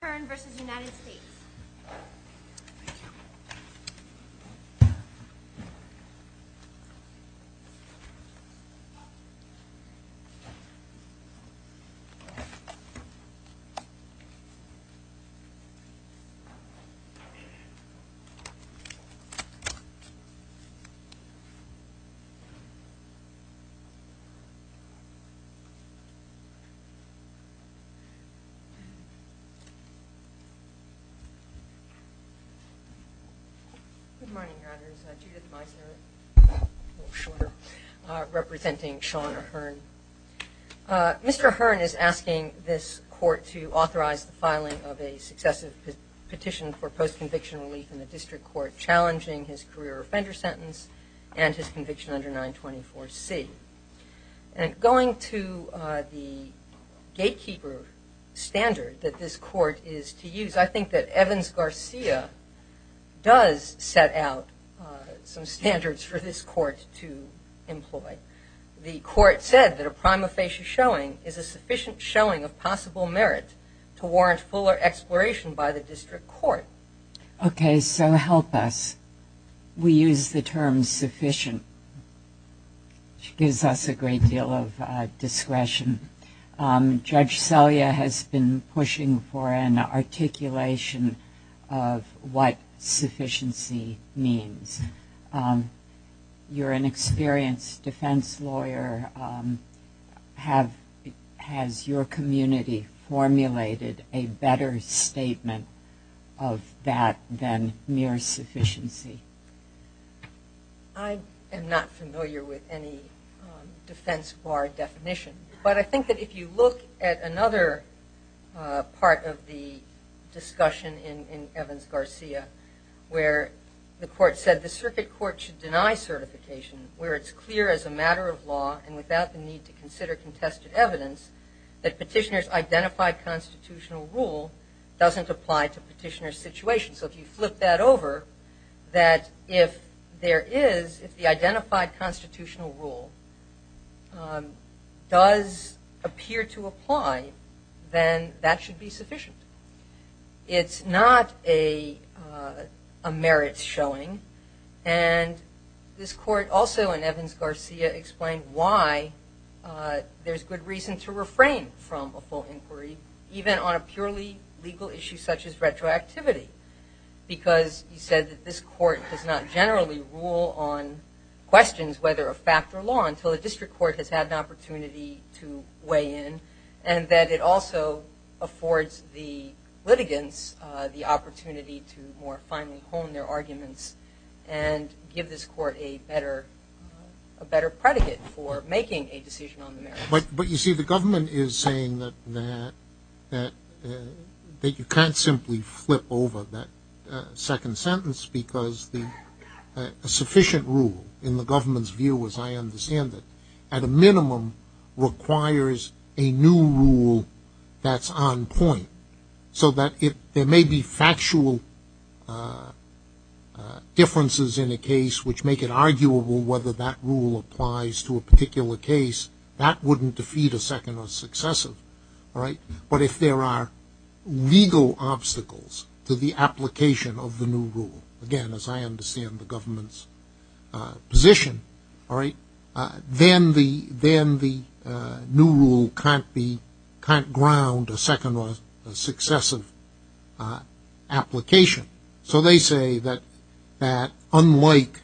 Thank you. Judith Meisner, representing Sean Ahern. Mr. Ahern is asking this court to authorize the filing of a successive petition for post-conviction relief in the district court challenging his career offender sentence and his conviction under 924C. And going to the gatekeeper standard that this court is to use, I think that Evans-Garcia does set out some standards for this court to employ. The court said that a prima facie showing is a sufficient showing of possible merit to warrant fuller exploration by the district court. Okay, so help us. We use the term sufficient. It gives us a great deal of discretion. Judge Selya has been pushing for an articulation of what sufficiency means. You're an experienced defense lawyer. Has your community formulated a better statement of that than mere sufficiency? I am not familiar with any defense bar definition, but I think that if you look at another part of the discussion in Evans-Garcia where the court said the circuit court should deny certification where it's clear as a matter of law and without the need to consider contested evidence that petitioner's identified constitutional rule doesn't apply to petitioner's situation. So if you flip that over, that if there is, if the identified constitutional rule does appear to apply, then that should be sufficient. It's not a merit showing, and this court also in Evans-Garcia explained why there's good reason to refrain from a full inquiry even on a purely legal issue such as retroactivity because he said that this court does not generally rule on questions whether a fact or law until the district court has had an opportunity to weigh in and that it also affords the litigants the opportunity to more finely hone their arguments and give this court a better predicate for making a decision on the merits. But you see the government is saying that you can't simply flip over that second sentence because a sufficient rule in the government's view as I understand it at a minimum requires a new rule that's on point so that if there may be factual differences in a case which make it arguable whether that rule applies to a particular case, that wouldn't defeat a second or successive, all right, but if there are legal obstacles to the application of the new rule, again as I understand the government's position, all right, then the new rule can't be, can't ground a second or successive application. So they say that unlike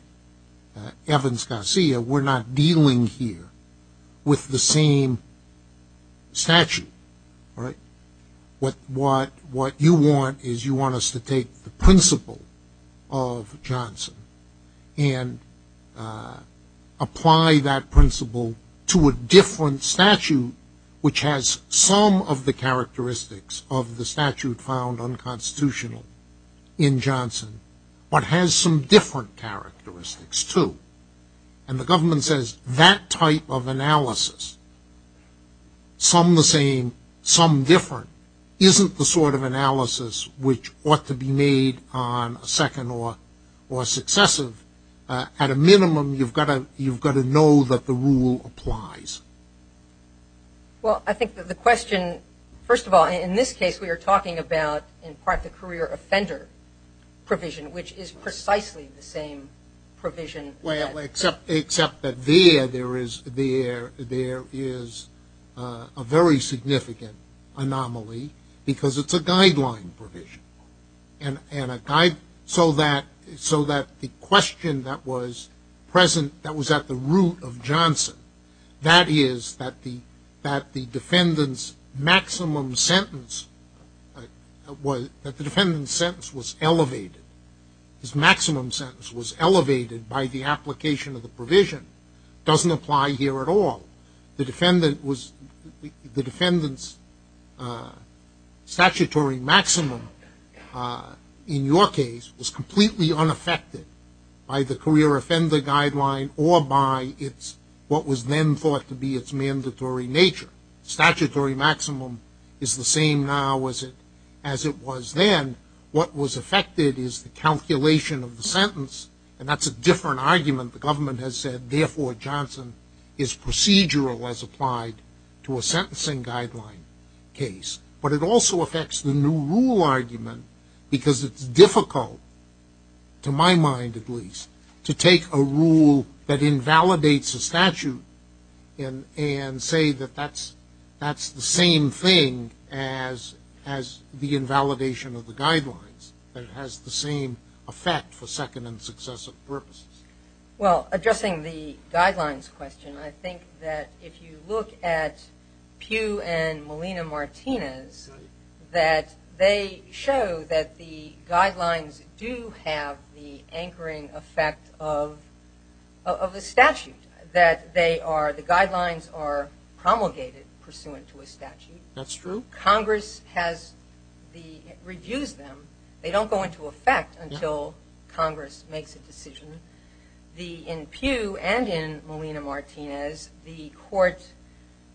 Evans-Garcia, we're not dealing here with the same statute, right. What you want is you want us to take the principle of Johnson and apply that principle to a different statute which has some of the characteristics of the statute found unconstitutional in Johnson but has some different characteristics too. And the government says that type of analysis, some the same, some different, isn't the sort of analysis which ought to be made on a second or successive, at a minimum you've got to know that the rule applies. Well I think that the question, first of all in this case we are talking about in part the career offender provision which is precisely the same provision. Well except that there is a very significant anomaly because it's a guideline provision and a guideline, so that the question that was present, that was at the root of Johnson, that is that the defendant's maximum sentence, that the defendant's sentence was elevated, his maximum sentence was elevated by the application of the provision, doesn't apply here at all. The defendant's statutory maximum in your case was completely unaffected by the career offender guideline or by what was then thought to be its mandatory nature. Statutory maximum is the same now as it was then. What was affected is the calculation of the sentence and that's a different argument. The government has said therefore Johnson is procedural as applied to a sentencing guideline case. But it also affects the new rule argument because it's difficult, to my mind at least, to take a rule that invalidates a statute and say that that's the same thing as the Well addressing the guidelines question, I think that if you look at Pew and Molina-Martinez that they show that the guidelines do have the anchoring effect of the statute, that they are, the guidelines are promulgated pursuant to a statute. That's true. Congress has the, reviews them, they don't go into effect until Congress makes a decision. The, in Pew and in Molina-Martinez, the court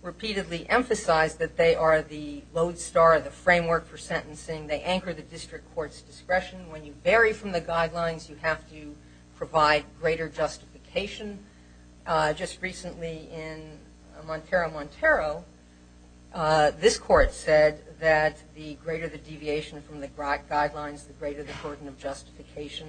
repeatedly emphasized that they are the lodestar, the framework for sentencing. They anchor the district court's discretion. When you vary from the guidelines, you have to provide greater justification. Just recently in Montero, Montero, this court said that the greater the deviation from the guidelines, the greater the burden of justification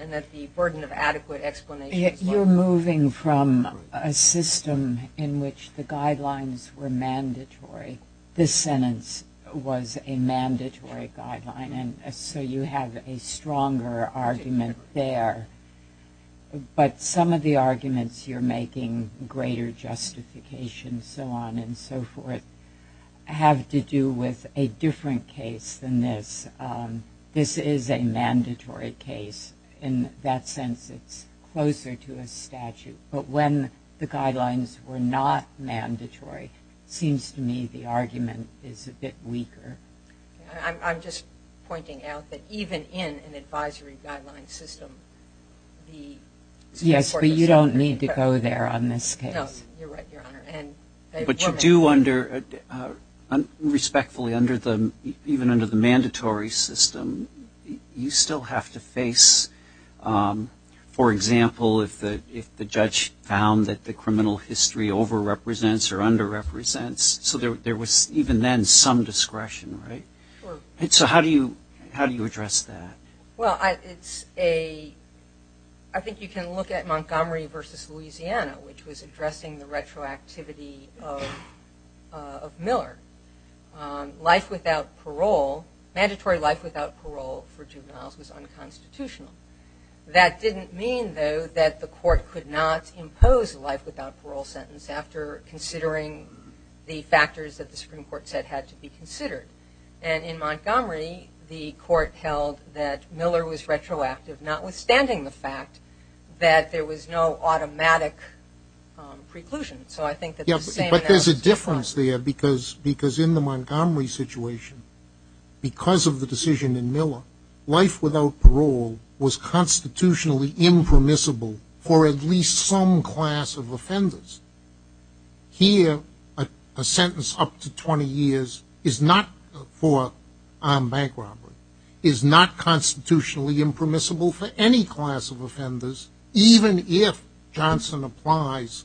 and that the burden of adequate explanation You're moving from a system in which the guidelines were mandatory. This sentence was a mandatory guideline and so you have a stronger argument there. But some of the arguments you're making, greater justification, so on and so forth, have to do with a different case than this. This is a mandatory case. In that sense, it's closer to a statute. But when the guidelines were not mandatory, it seems to me the argument is a bit weaker. I'm just pointing out that even in an advisory guideline system, the Yes, but you don't need to go there on this case. No, you're right, Your Honor. But you do, respectfully, even under the mandatory system, you still have to face, for example, if the judge found that the criminal history over-represents or under-represents. So there was even then some discretion, right? So how do you address that? Well, I think you can look at Montgomery v. Louisiana, which was addressing the retroactivity of Miller. Life without parole, mandatory life without parole for juveniles was unconstitutional. That didn't mean, though, that the court could not impose a life without parole sentence after considering the factors that the Supreme Court said had to be considered. And in Montgomery, the court held that Miller was retroactive, notwithstanding the fact that there was no automatic preclusion. But there's a difference there, because in the Montgomery situation, because of the decision in Miller, life without parole was constitutionally impermissible for at least some class of offenders. Here, a sentence up to 20 years is not for bank robbery, is not constitutionally impermissible for any class of offenders, even if Johnson applies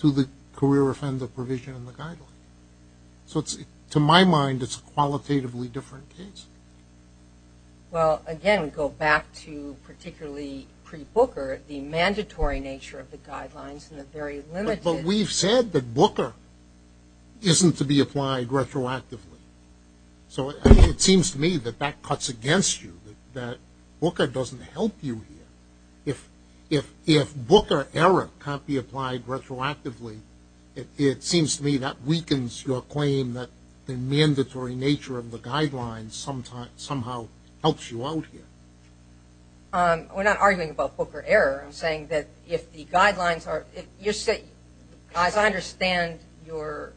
to the career offender provision in the Guideline. So to my mind, it's a qualitatively different case. Well, again, we go back to particularly pre-Booker, the mandatory nature of the Guidelines and the very limited... But we've said that Booker isn't to be applied retroactively. So it seems to me that that cuts against you, that Booker doesn't help you here. If Booker error can't be applied retroactively, it seems to me that weakens your claim that the mandatory nature of the Guidelines somehow helps you out here. We're not arguing about Booker error. I'm saying that if the Guidelines are... As I understand your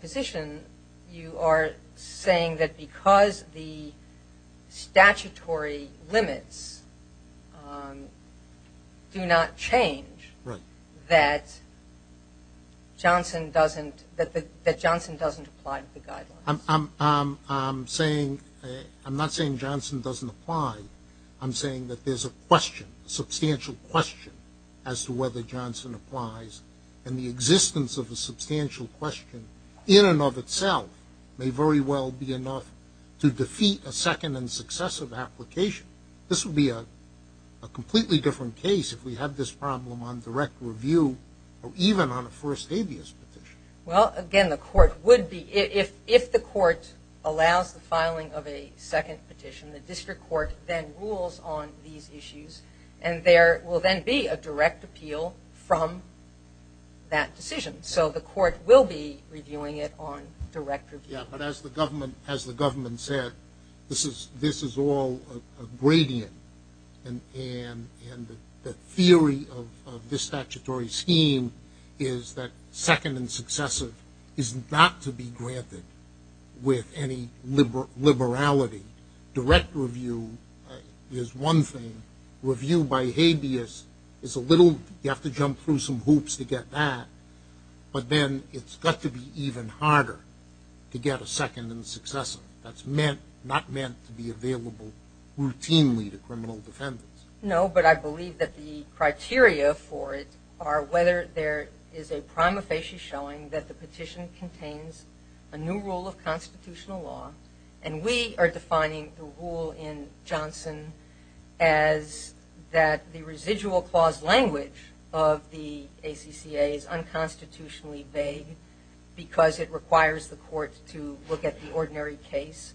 position, you are saying that because the statutory limits do not change, that Johnson doesn't apply to the Guidelines. I'm not saying Johnson doesn't apply. I'm saying that there's a question, a substantial question, as to whether Johnson applies, and the existence of a substantial question in and of itself may very well be enough to defeat a second and successive application. This would be a completely different case if we had this problem on direct review or even on a first habeas petition. Well, again, the court would be... If the court allows the filing of a second petition, the district court then rules on these issues, and there will then be a direct appeal from that decision. So the court will be reviewing it on direct review. Yeah, but as the government said, this is all a gradient, and the theory of this statutory scheme is that second and successive is not to be granted with any liberality. Direct review is one thing. Review by habeas is a little... You have to jump through some hoops to get that, but then it's got to be even harder to get a second and successive. That's not meant to be available routinely to criminal defendants. No, but I believe that the criteria for it are whether there is a prima facie showing that the petition contains a new rule of constitutional law, and we are defining the rule in Johnson as that the residual clause language of the ACCA is unconstitutionally vague because it requires the court to look at the ordinary case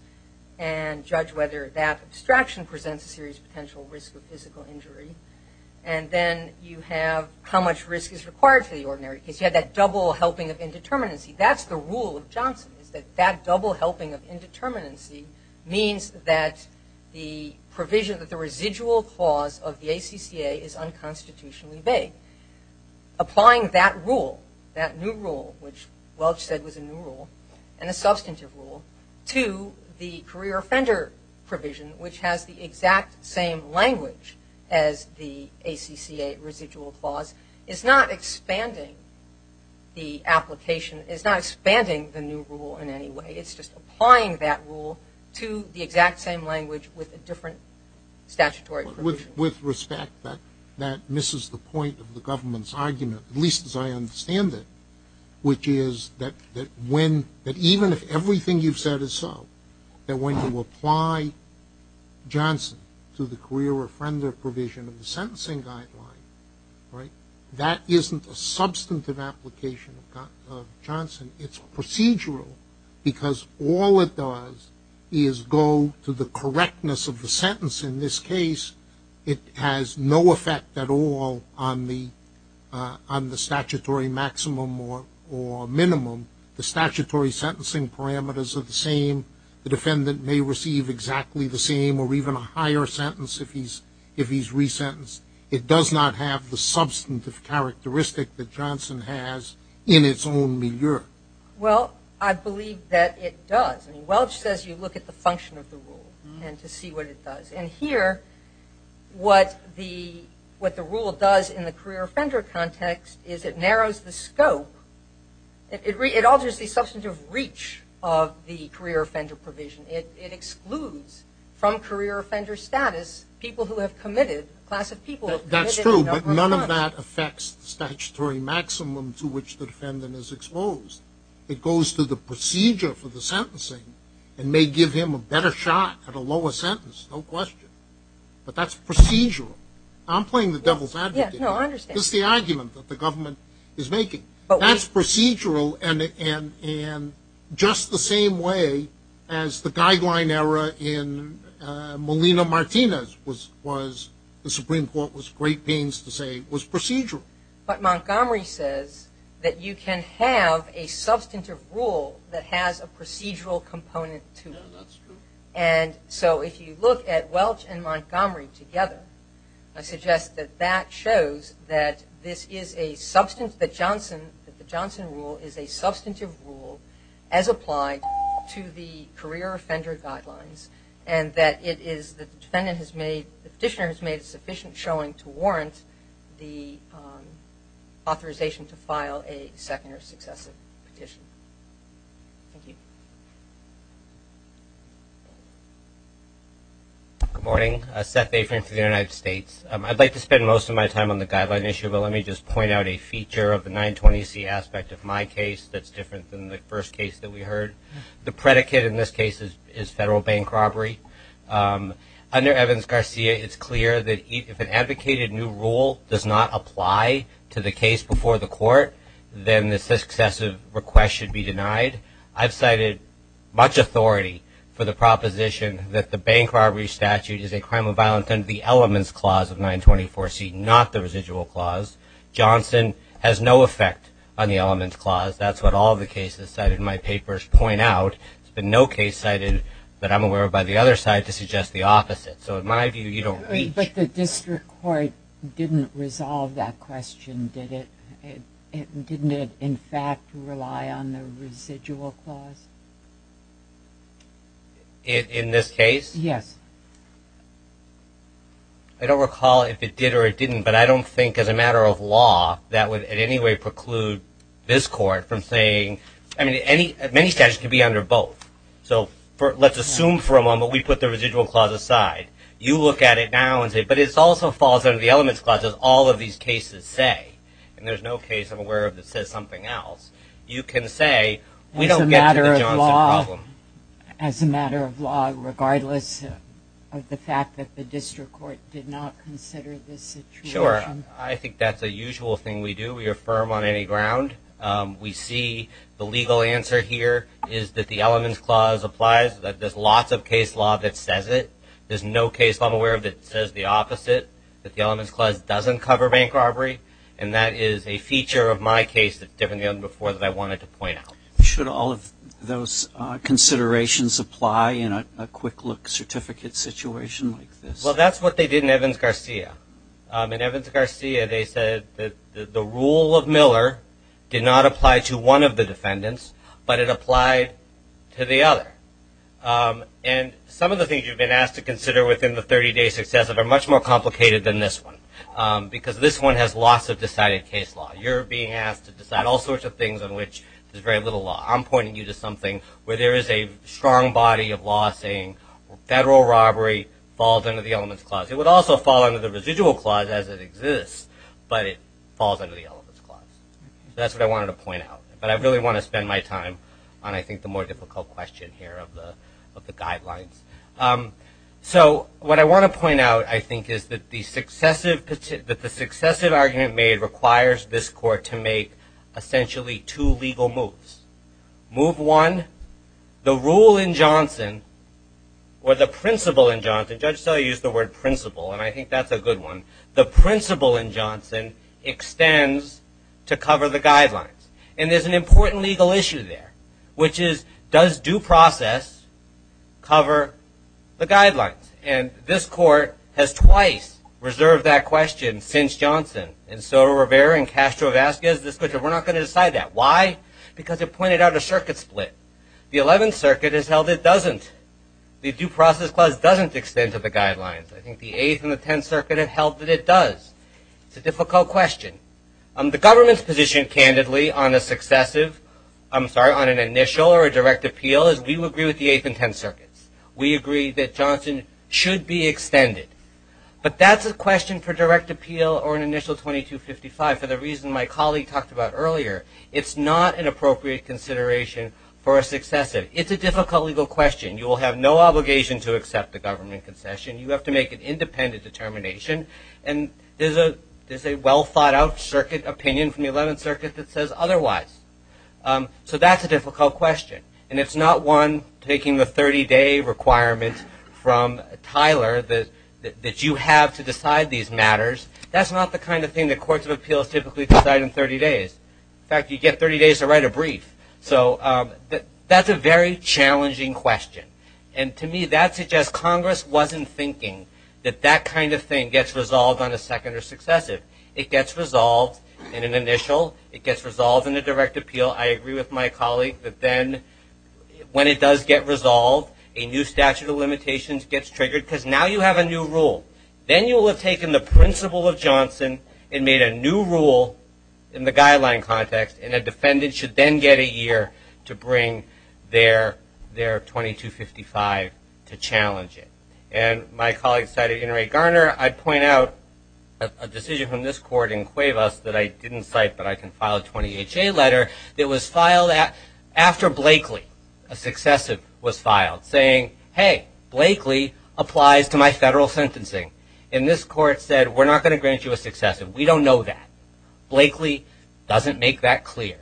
and judge whether that abstraction presents a serious potential risk of physical injury, and then you have how much risk is required for the ordinary case. You have that double helping of indeterminacy. That's the rule of Johnson is that that double helping of indeterminacy means that the provision, that the residual clause of the ACCA is unconstitutionally vague. Applying that rule, that new rule, which Welch said was a new rule, and a substantive rule to the career offender provision, which has the exact same language as the ACCA residual clause, is not expanding the application, is not expanding the new rule in any way. It's just applying that rule to the exact same language with a different statutory provision. With respect, that misses the point of the government's argument, at least as I understand it, which is that even if everything you've said is so, that when you apply Johnson to the career offender provision of the sentencing guideline, that isn't a substantive application of Johnson. It's procedural because all it does is go to the correctness of the sentence. In this case, it has no effect at all on the statutory maximum or minimum. The statutory sentencing parameters are the same. The defendant may receive exactly the same or even a higher sentence if he's resentenced. It does not have the substantive characteristic that Johnson has in its own milieu. Well, I believe that it does. Welch says you look at the function of the rule and to see what it does. And here, what the rule does in the career offender context is it narrows the scope. It alters the substantive reach of the career offender provision. It excludes from career offender status people who have committed, a class of people who have committed a number of crimes. That's true, but none of that affects the statutory maximum to which the defendant is exposed. It goes to the procedure for the sentencing and may give him a better shot at a lower sentence, no question. But that's procedural. I'm playing the devil's advocate. No, I understand. This is the argument that the government is making. That's procedural in just the same way as the guideline error in Molina Martinez, which the Supreme Court was in great pains to say was procedural. But Montgomery says that you can have a substantive rule that has a procedural component to it. Yeah, that's true. If you look at Welch and Montgomery together, I suggest that that shows that the Johnson rule is a substantive rule as applied to the career offender guidelines. And that the petitioner has made sufficient showing to warrant the authorization to file a second or successive petition. Thank you. Good morning. Seth Avery for the United States. I'd like to spend most of my time on the guideline issue, but let me just point out a feature of the 920C aspect of my case that's different than the first case that we heard. The predicate in this case is federal bank robbery. Under Evans-Garcia, it's clear that if an advocated new rule does not apply to the case before the court, then the successive request should be denied. I've cited much authority for the proposition that the bank robbery statute is a crime of violence under the elements clause of 920C, not the residual clause. Johnson has no effect on the elements clause. That's what all the cases cited in my papers point out. There's been no case cited that I'm aware of by the other side to suggest the opposite. So in my view, you don't reach. But the district court didn't resolve that question, did it? Didn't it, in fact, rely on the residual clause? In this case? Yes. I don't recall if it did or it didn't, but I don't think as a matter of law that would in any way preclude this court from saying, I mean, many statutes can be under both. So let's assume for a moment we put the residual clause aside. You look at it now and say, but it also falls under the elements clause, as all of these cases say. And there's no case I'm aware of that says something else. You can say we don't get to the Johnson problem. As a matter of law, regardless of the fact that the district court did not consider this situation. Sure. I think that's a usual thing we do. We affirm on any ground. We see the legal answer here is that the elements clause applies, that there's lots of case law that says it. There's no case law I'm aware of that says the opposite, that the elements clause doesn't cover bank robbery. And that is a feature of my case that's different than before that I wanted to point out. Should all of those considerations apply in a quick-look certificate situation like this? Well, that's what they did in Evans-Garcia. In Evans-Garcia, they said that the rule of Miller did not apply to one of the defendants, but it applied to the other. And some of the things you've been asked to consider within the 30-day success of it are much more complicated than this one. Because this one has lots of decided case law. You're being asked to decide all sorts of things on which there's very little law. I'm pointing you to something where there is a strong body of law saying federal robbery falls under the elements clause. It would also fall under the residual clause as it exists, but it falls under the elements clause. That's what I wanted to point out. But I really want to spend my time on, I think, the more difficult question here of the guidelines. So what I want to point out, I think, is that the successive argument made requires this court to make essentially two legal moves. Move one, the rule in Johnson, or the principle in Johnson, Judge Selle used the word principle, and I think that's a good one. The principle in Johnson extends to cover the guidelines. And there's an important legal issue there, which is does due process cover the guidelines? And this court has twice reserved that question since Johnson. And so Rivera and Castro have asked us this question. We're not going to decide that. Why? Because it pointed out a circuit split. The 11th Circuit has held it doesn't. The due process clause doesn't extend to the guidelines. I think the 8th and the 10th Circuit have held that it does. It's a difficult question. The government's position, candidly, on an initial or a direct appeal is we agree with the 8th and 10th Circuits. We agree that Johnson should be extended. But that's a question for direct appeal or an initial 2255 for the reason my colleague talked about earlier. It's not an appropriate consideration for a successive. It's a difficult legal question. You will have no obligation to accept the government concession. You have to make an independent determination. And there's a well-thought-out opinion from the 11th Circuit that says otherwise. So that's a difficult question. And it's not one taking the 30-day requirement from Tyler that you have to decide these matters. That's not the kind of thing that courts of appeals typically decide in 30 days. In fact, you get 30 days to write a brief. So that's a very challenging question. And to me, that suggests Congress wasn't thinking that that kind of thing gets resolved on a second or successive. It gets resolved in an initial. It gets resolved in a direct appeal. I agree with my colleague that then when it does get resolved, a new statute of limitations gets triggered because now you have a new rule. Then you will have taken the principle of Johnson and made a new rule in the guideline context, and a defendant should then get a year to bring their 2255 to challenge it. And my colleague cited Inouye Garner. I point out a decision from this court in Cuevas that I didn't cite, but I can file a 20HA letter, that was filed after Blakely, a successive, was filed saying, hey, Blakely applies to my federal sentencing. And this court said, we're not going to grant you a successive. We don't know that. Blakely doesn't make that clear.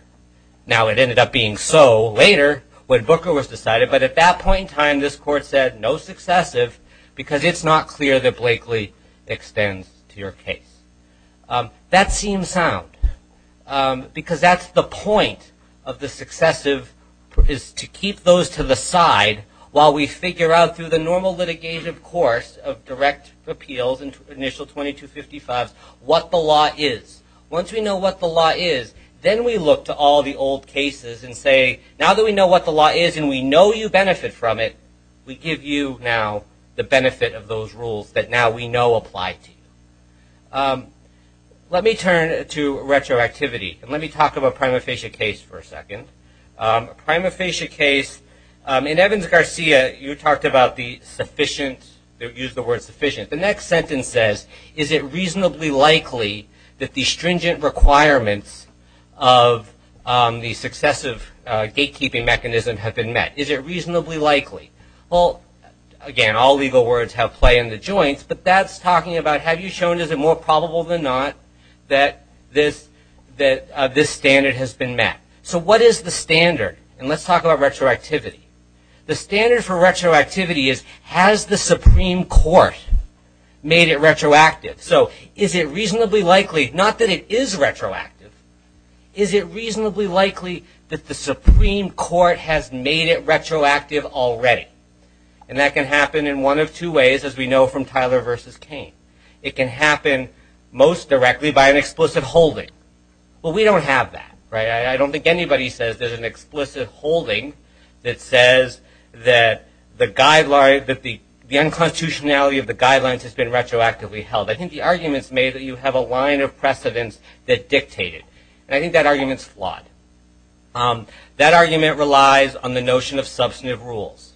Now, it ended up being so later when Booker was decided, but at that point in time, this court said, no successive because it's not clear that Blakely extends to your case. That seems sound because that's the point of the successive is to keep those to the side while we figure out through the normal litigation course of direct appeals and initial 2255s what the law is. Once we know what the law is, then we look to all the old cases and say, now that we know what the law is and we know you benefit from it, we give you now the benefit of those rules that now we know apply to you. Let me turn to retroactivity, and let me talk about prima facie case for a second. Prima facie case, in Evans-Garcia, you talked about the sufficient, used the word sufficient. The next sentence says, is it reasonably likely that the stringent requirements of the successive gatekeeping mechanism have been met? Is it reasonably likely? Well, again, all legal words have play in the joints, but that's talking about, have you shown is it more probable than not that this standard has been met? So what is the standard? And let's talk about retroactivity. The standard for retroactivity is, has the Supreme Court made it retroactive? So is it reasonably likely, not that it is retroactive, is it reasonably likely that the Supreme Court has made it retroactive already? And that can happen in one of two ways, as we know from Tyler v. Cain. It can happen most directly by an explicit holding. Well, we don't have that. I don't think anybody says there's an explicit holding that says that the unconstitutionality of the guidelines has been retroactively held. I think the argument is made that you have a line of precedence that dictated. And I think that argument is flawed. That argument relies on the notion of substantive rules,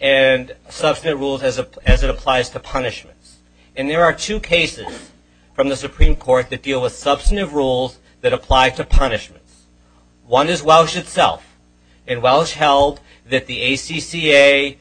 and substantive rules as it applies to punishments. And there are two cases from the Supreme Court that deal with substantive rules that apply to punishments. One is Welsh itself, and Welsh held that the ACCA,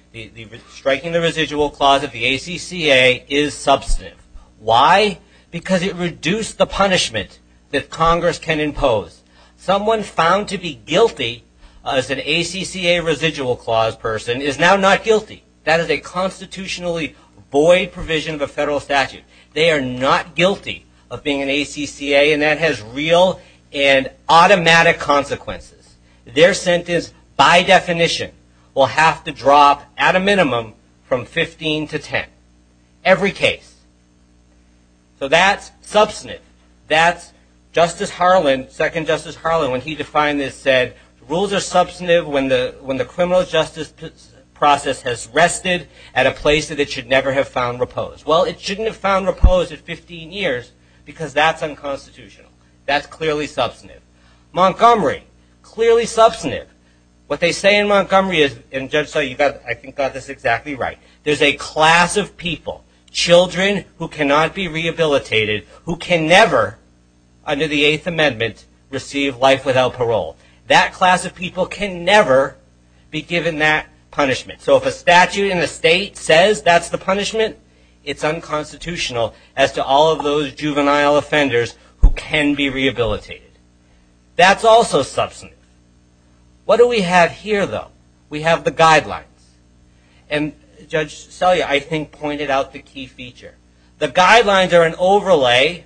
striking the residual clause of the ACCA is substantive. Why? Because it reduced the punishment that Congress can impose. Someone found to be guilty as an ACCA residual clause person is now not guilty. That is a constitutionally void provision of a federal statute. They are not guilty of being an ACCA, and that has real and automatic consequences. Their sentence, by definition, will have to drop at a minimum from 15 to 10. Every case. So that's substantive. Justice Harlan, Second Justice Harlan, when he defined this said, rules are substantive when the criminal justice process has rested at a place that it should never have found repose. Well, it shouldn't have found repose at 15 years because that's unconstitutional. That's clearly substantive. Montgomery, clearly substantive. What they say in Montgomery is, and Judge Sully, I think you got this exactly right, there's a class of people, children who cannot be rehabilitated, who can never, under the Eighth Amendment, receive life without parole. That class of people can never be given that punishment. So if a statute in the state says that's the punishment, it's unconstitutional as to all of those juvenile offenders who can be rehabilitated. That's also substantive. What do we have here, though? We have the guidelines. And Judge Sully, I think, pointed out the key feature. The guidelines are an overlay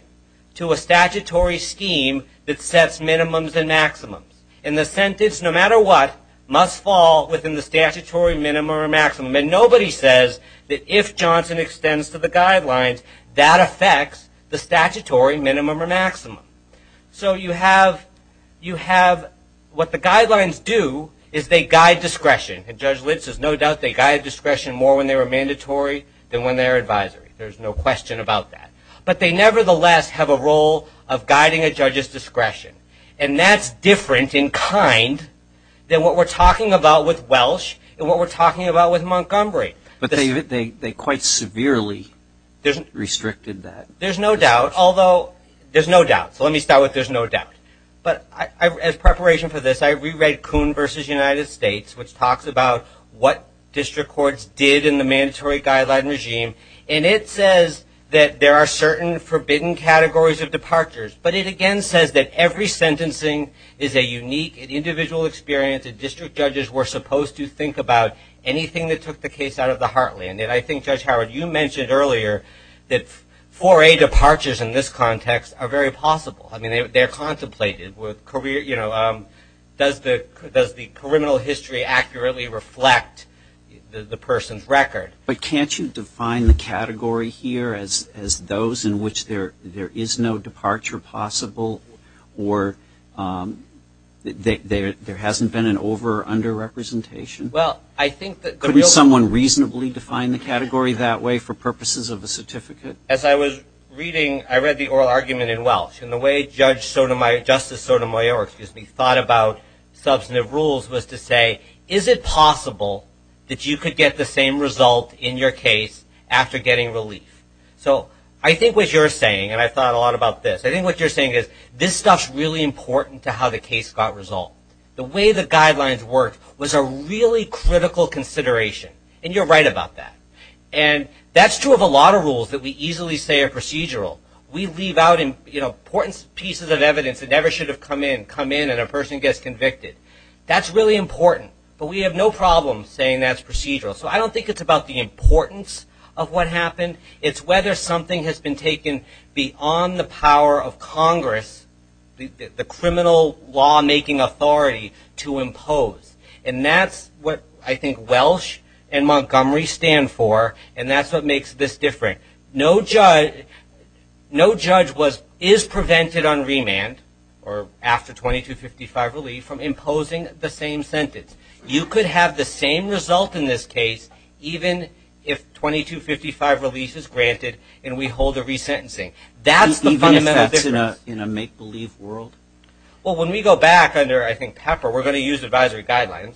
to a statutory scheme that sets minimums and maximums. And the sentence, no matter what, must fall within the statutory minimum or maximum. And nobody says that if Johnson extends to the guidelines, that affects the statutory minimum or maximum. So what the guidelines do is they guide discretion. And Judge Litz says no doubt they guide discretion more when they were mandatory than when they were advisory. There's no question about that. But they nevertheless have a role of guiding a judge's discretion. And that's different in kind than what we're talking about with Welsh and what we're talking about with Montgomery. But they quite severely restricted that. There's no doubt, although there's no doubt. So let me start with there's no doubt. But as preparation for this, I reread Coon v. United States, which talks about what district courts did in the mandatory guideline regime. And it says that there are certain forbidden categories of departures. But it, again, says that every sentencing is a unique individual experience. And district judges were supposed to think about anything that took the case out of the heartland. And I think, Judge Howard, you mentioned earlier that 4A departures in this context are very possible. I mean, they're contemplated. Does the criminal history accurately reflect the person's record? But can't you define the category here as those in which there is no departure possible or there hasn't been an over- or under-representation? Couldn't someone reasonably define the category that way for purposes of a certificate? As I was reading, I read the oral argument in Welsh. And the way Justice Sotomayor thought about substantive rules was to say, is it possible that you could get the same result in your case after getting relief? So I think what you're saying, and I thought a lot about this, I think what you're saying is this stuff's really important to how the case got resolved. The way the guidelines worked was a really critical consideration, and you're right about that. And that's true of a lot of rules that we easily say are procedural. We leave out important pieces of evidence that never should have come in, come in and a person gets convicted. That's really important, but we have no problem saying that's procedural. So I don't think it's about the importance of what happened. It's whether something has been taken beyond the power of Congress, the criminal law-making authority to impose. And that's what I think Welsh and Montgomery stand for, and that's what makes this different. No judge is prevented on remand or after 2255 relief from imposing the same sentence. You could have the same result in this case even if 2255 relief is granted and we hold a resentencing. That's the fundamental difference. Even if that's in a make-believe world? Well, when we go back under, I think, Pepper, we're going to use advisory guidelines,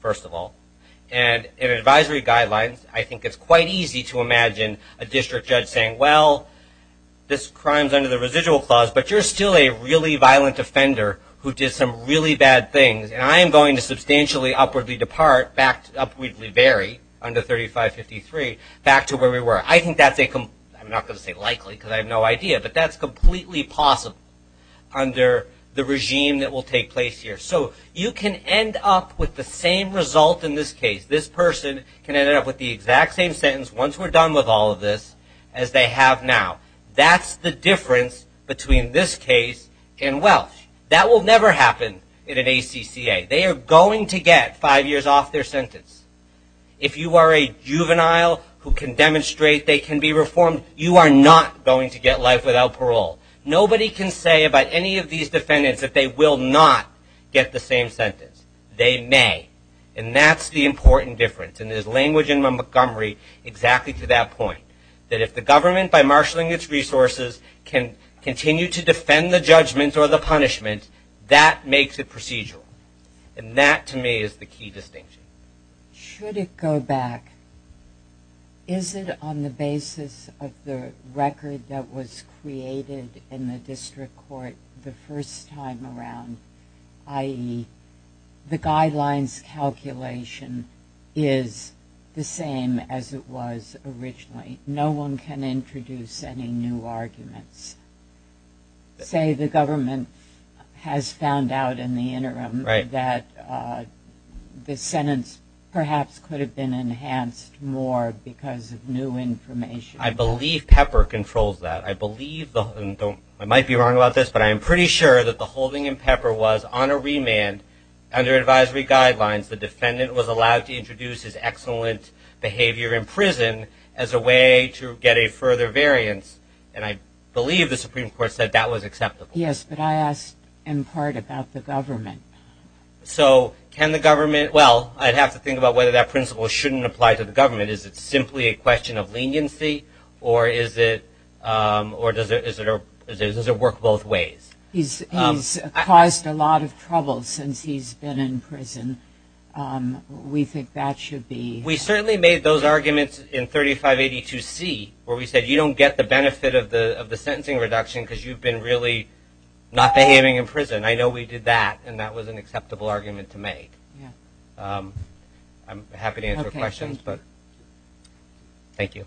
first of all. And in advisory guidelines, I think it's quite easy to imagine a district judge saying, well, this crime's under the residual clause, but you're still a really violent offender who did some really bad things, and I am going to substantially upwardly depart, upwardly vary under 3553 back to where we were. I think that's a, I'm not going to say likely because I have no idea, but that's completely possible under the regime that will take place here. So you can end up with the same result in this case. This person can end up with the exact same sentence once we're done with all of this as they have now. That's the difference between this case and Welsh. That will never happen in an ACCA. They are going to get five years off their sentence. If you are a juvenile who can demonstrate they can be reformed, you are not going to get life without parole. Nobody can say about any of these defendants that they will not get the same sentence. They may, and that's the important difference. And there's language in Montgomery exactly to that point, that if the government, by marshalling its resources, can continue to defend the judgment or the punishment, that makes it procedural. And that, to me, is the key distinction. Should it go back? Is it on the basis of the record that was created in the district court the first time around, i.e., the guidelines calculation is the same as it was originally? No one can introduce any new arguments. Say the government has found out in the interim that the sentence perhaps could have been enhanced more because of new information. I believe Pepper controls that. I believe, and I might be wrong about this, but I am pretty sure that the holding in Pepper was on a remand under advisory guidelines. The defendant was allowed to introduce his excellent behavior in prison as a way to get a further variance. And I believe the Supreme Court said that was acceptable. Yes, but I asked in part about the government. So can the government, well, I'd have to think about whether that principle shouldn't apply to the government. Is it simply a question of leniency, or does it work both ways? He's caused a lot of trouble since he's been in prison. We think that should be. We certainly made those arguments in 3582C where we said you don't get the benefit of the sentencing reduction because you've been really not behaving in prison. I know we did that, and that was an acceptable argument to make. I'm happy to answer questions. Thank you.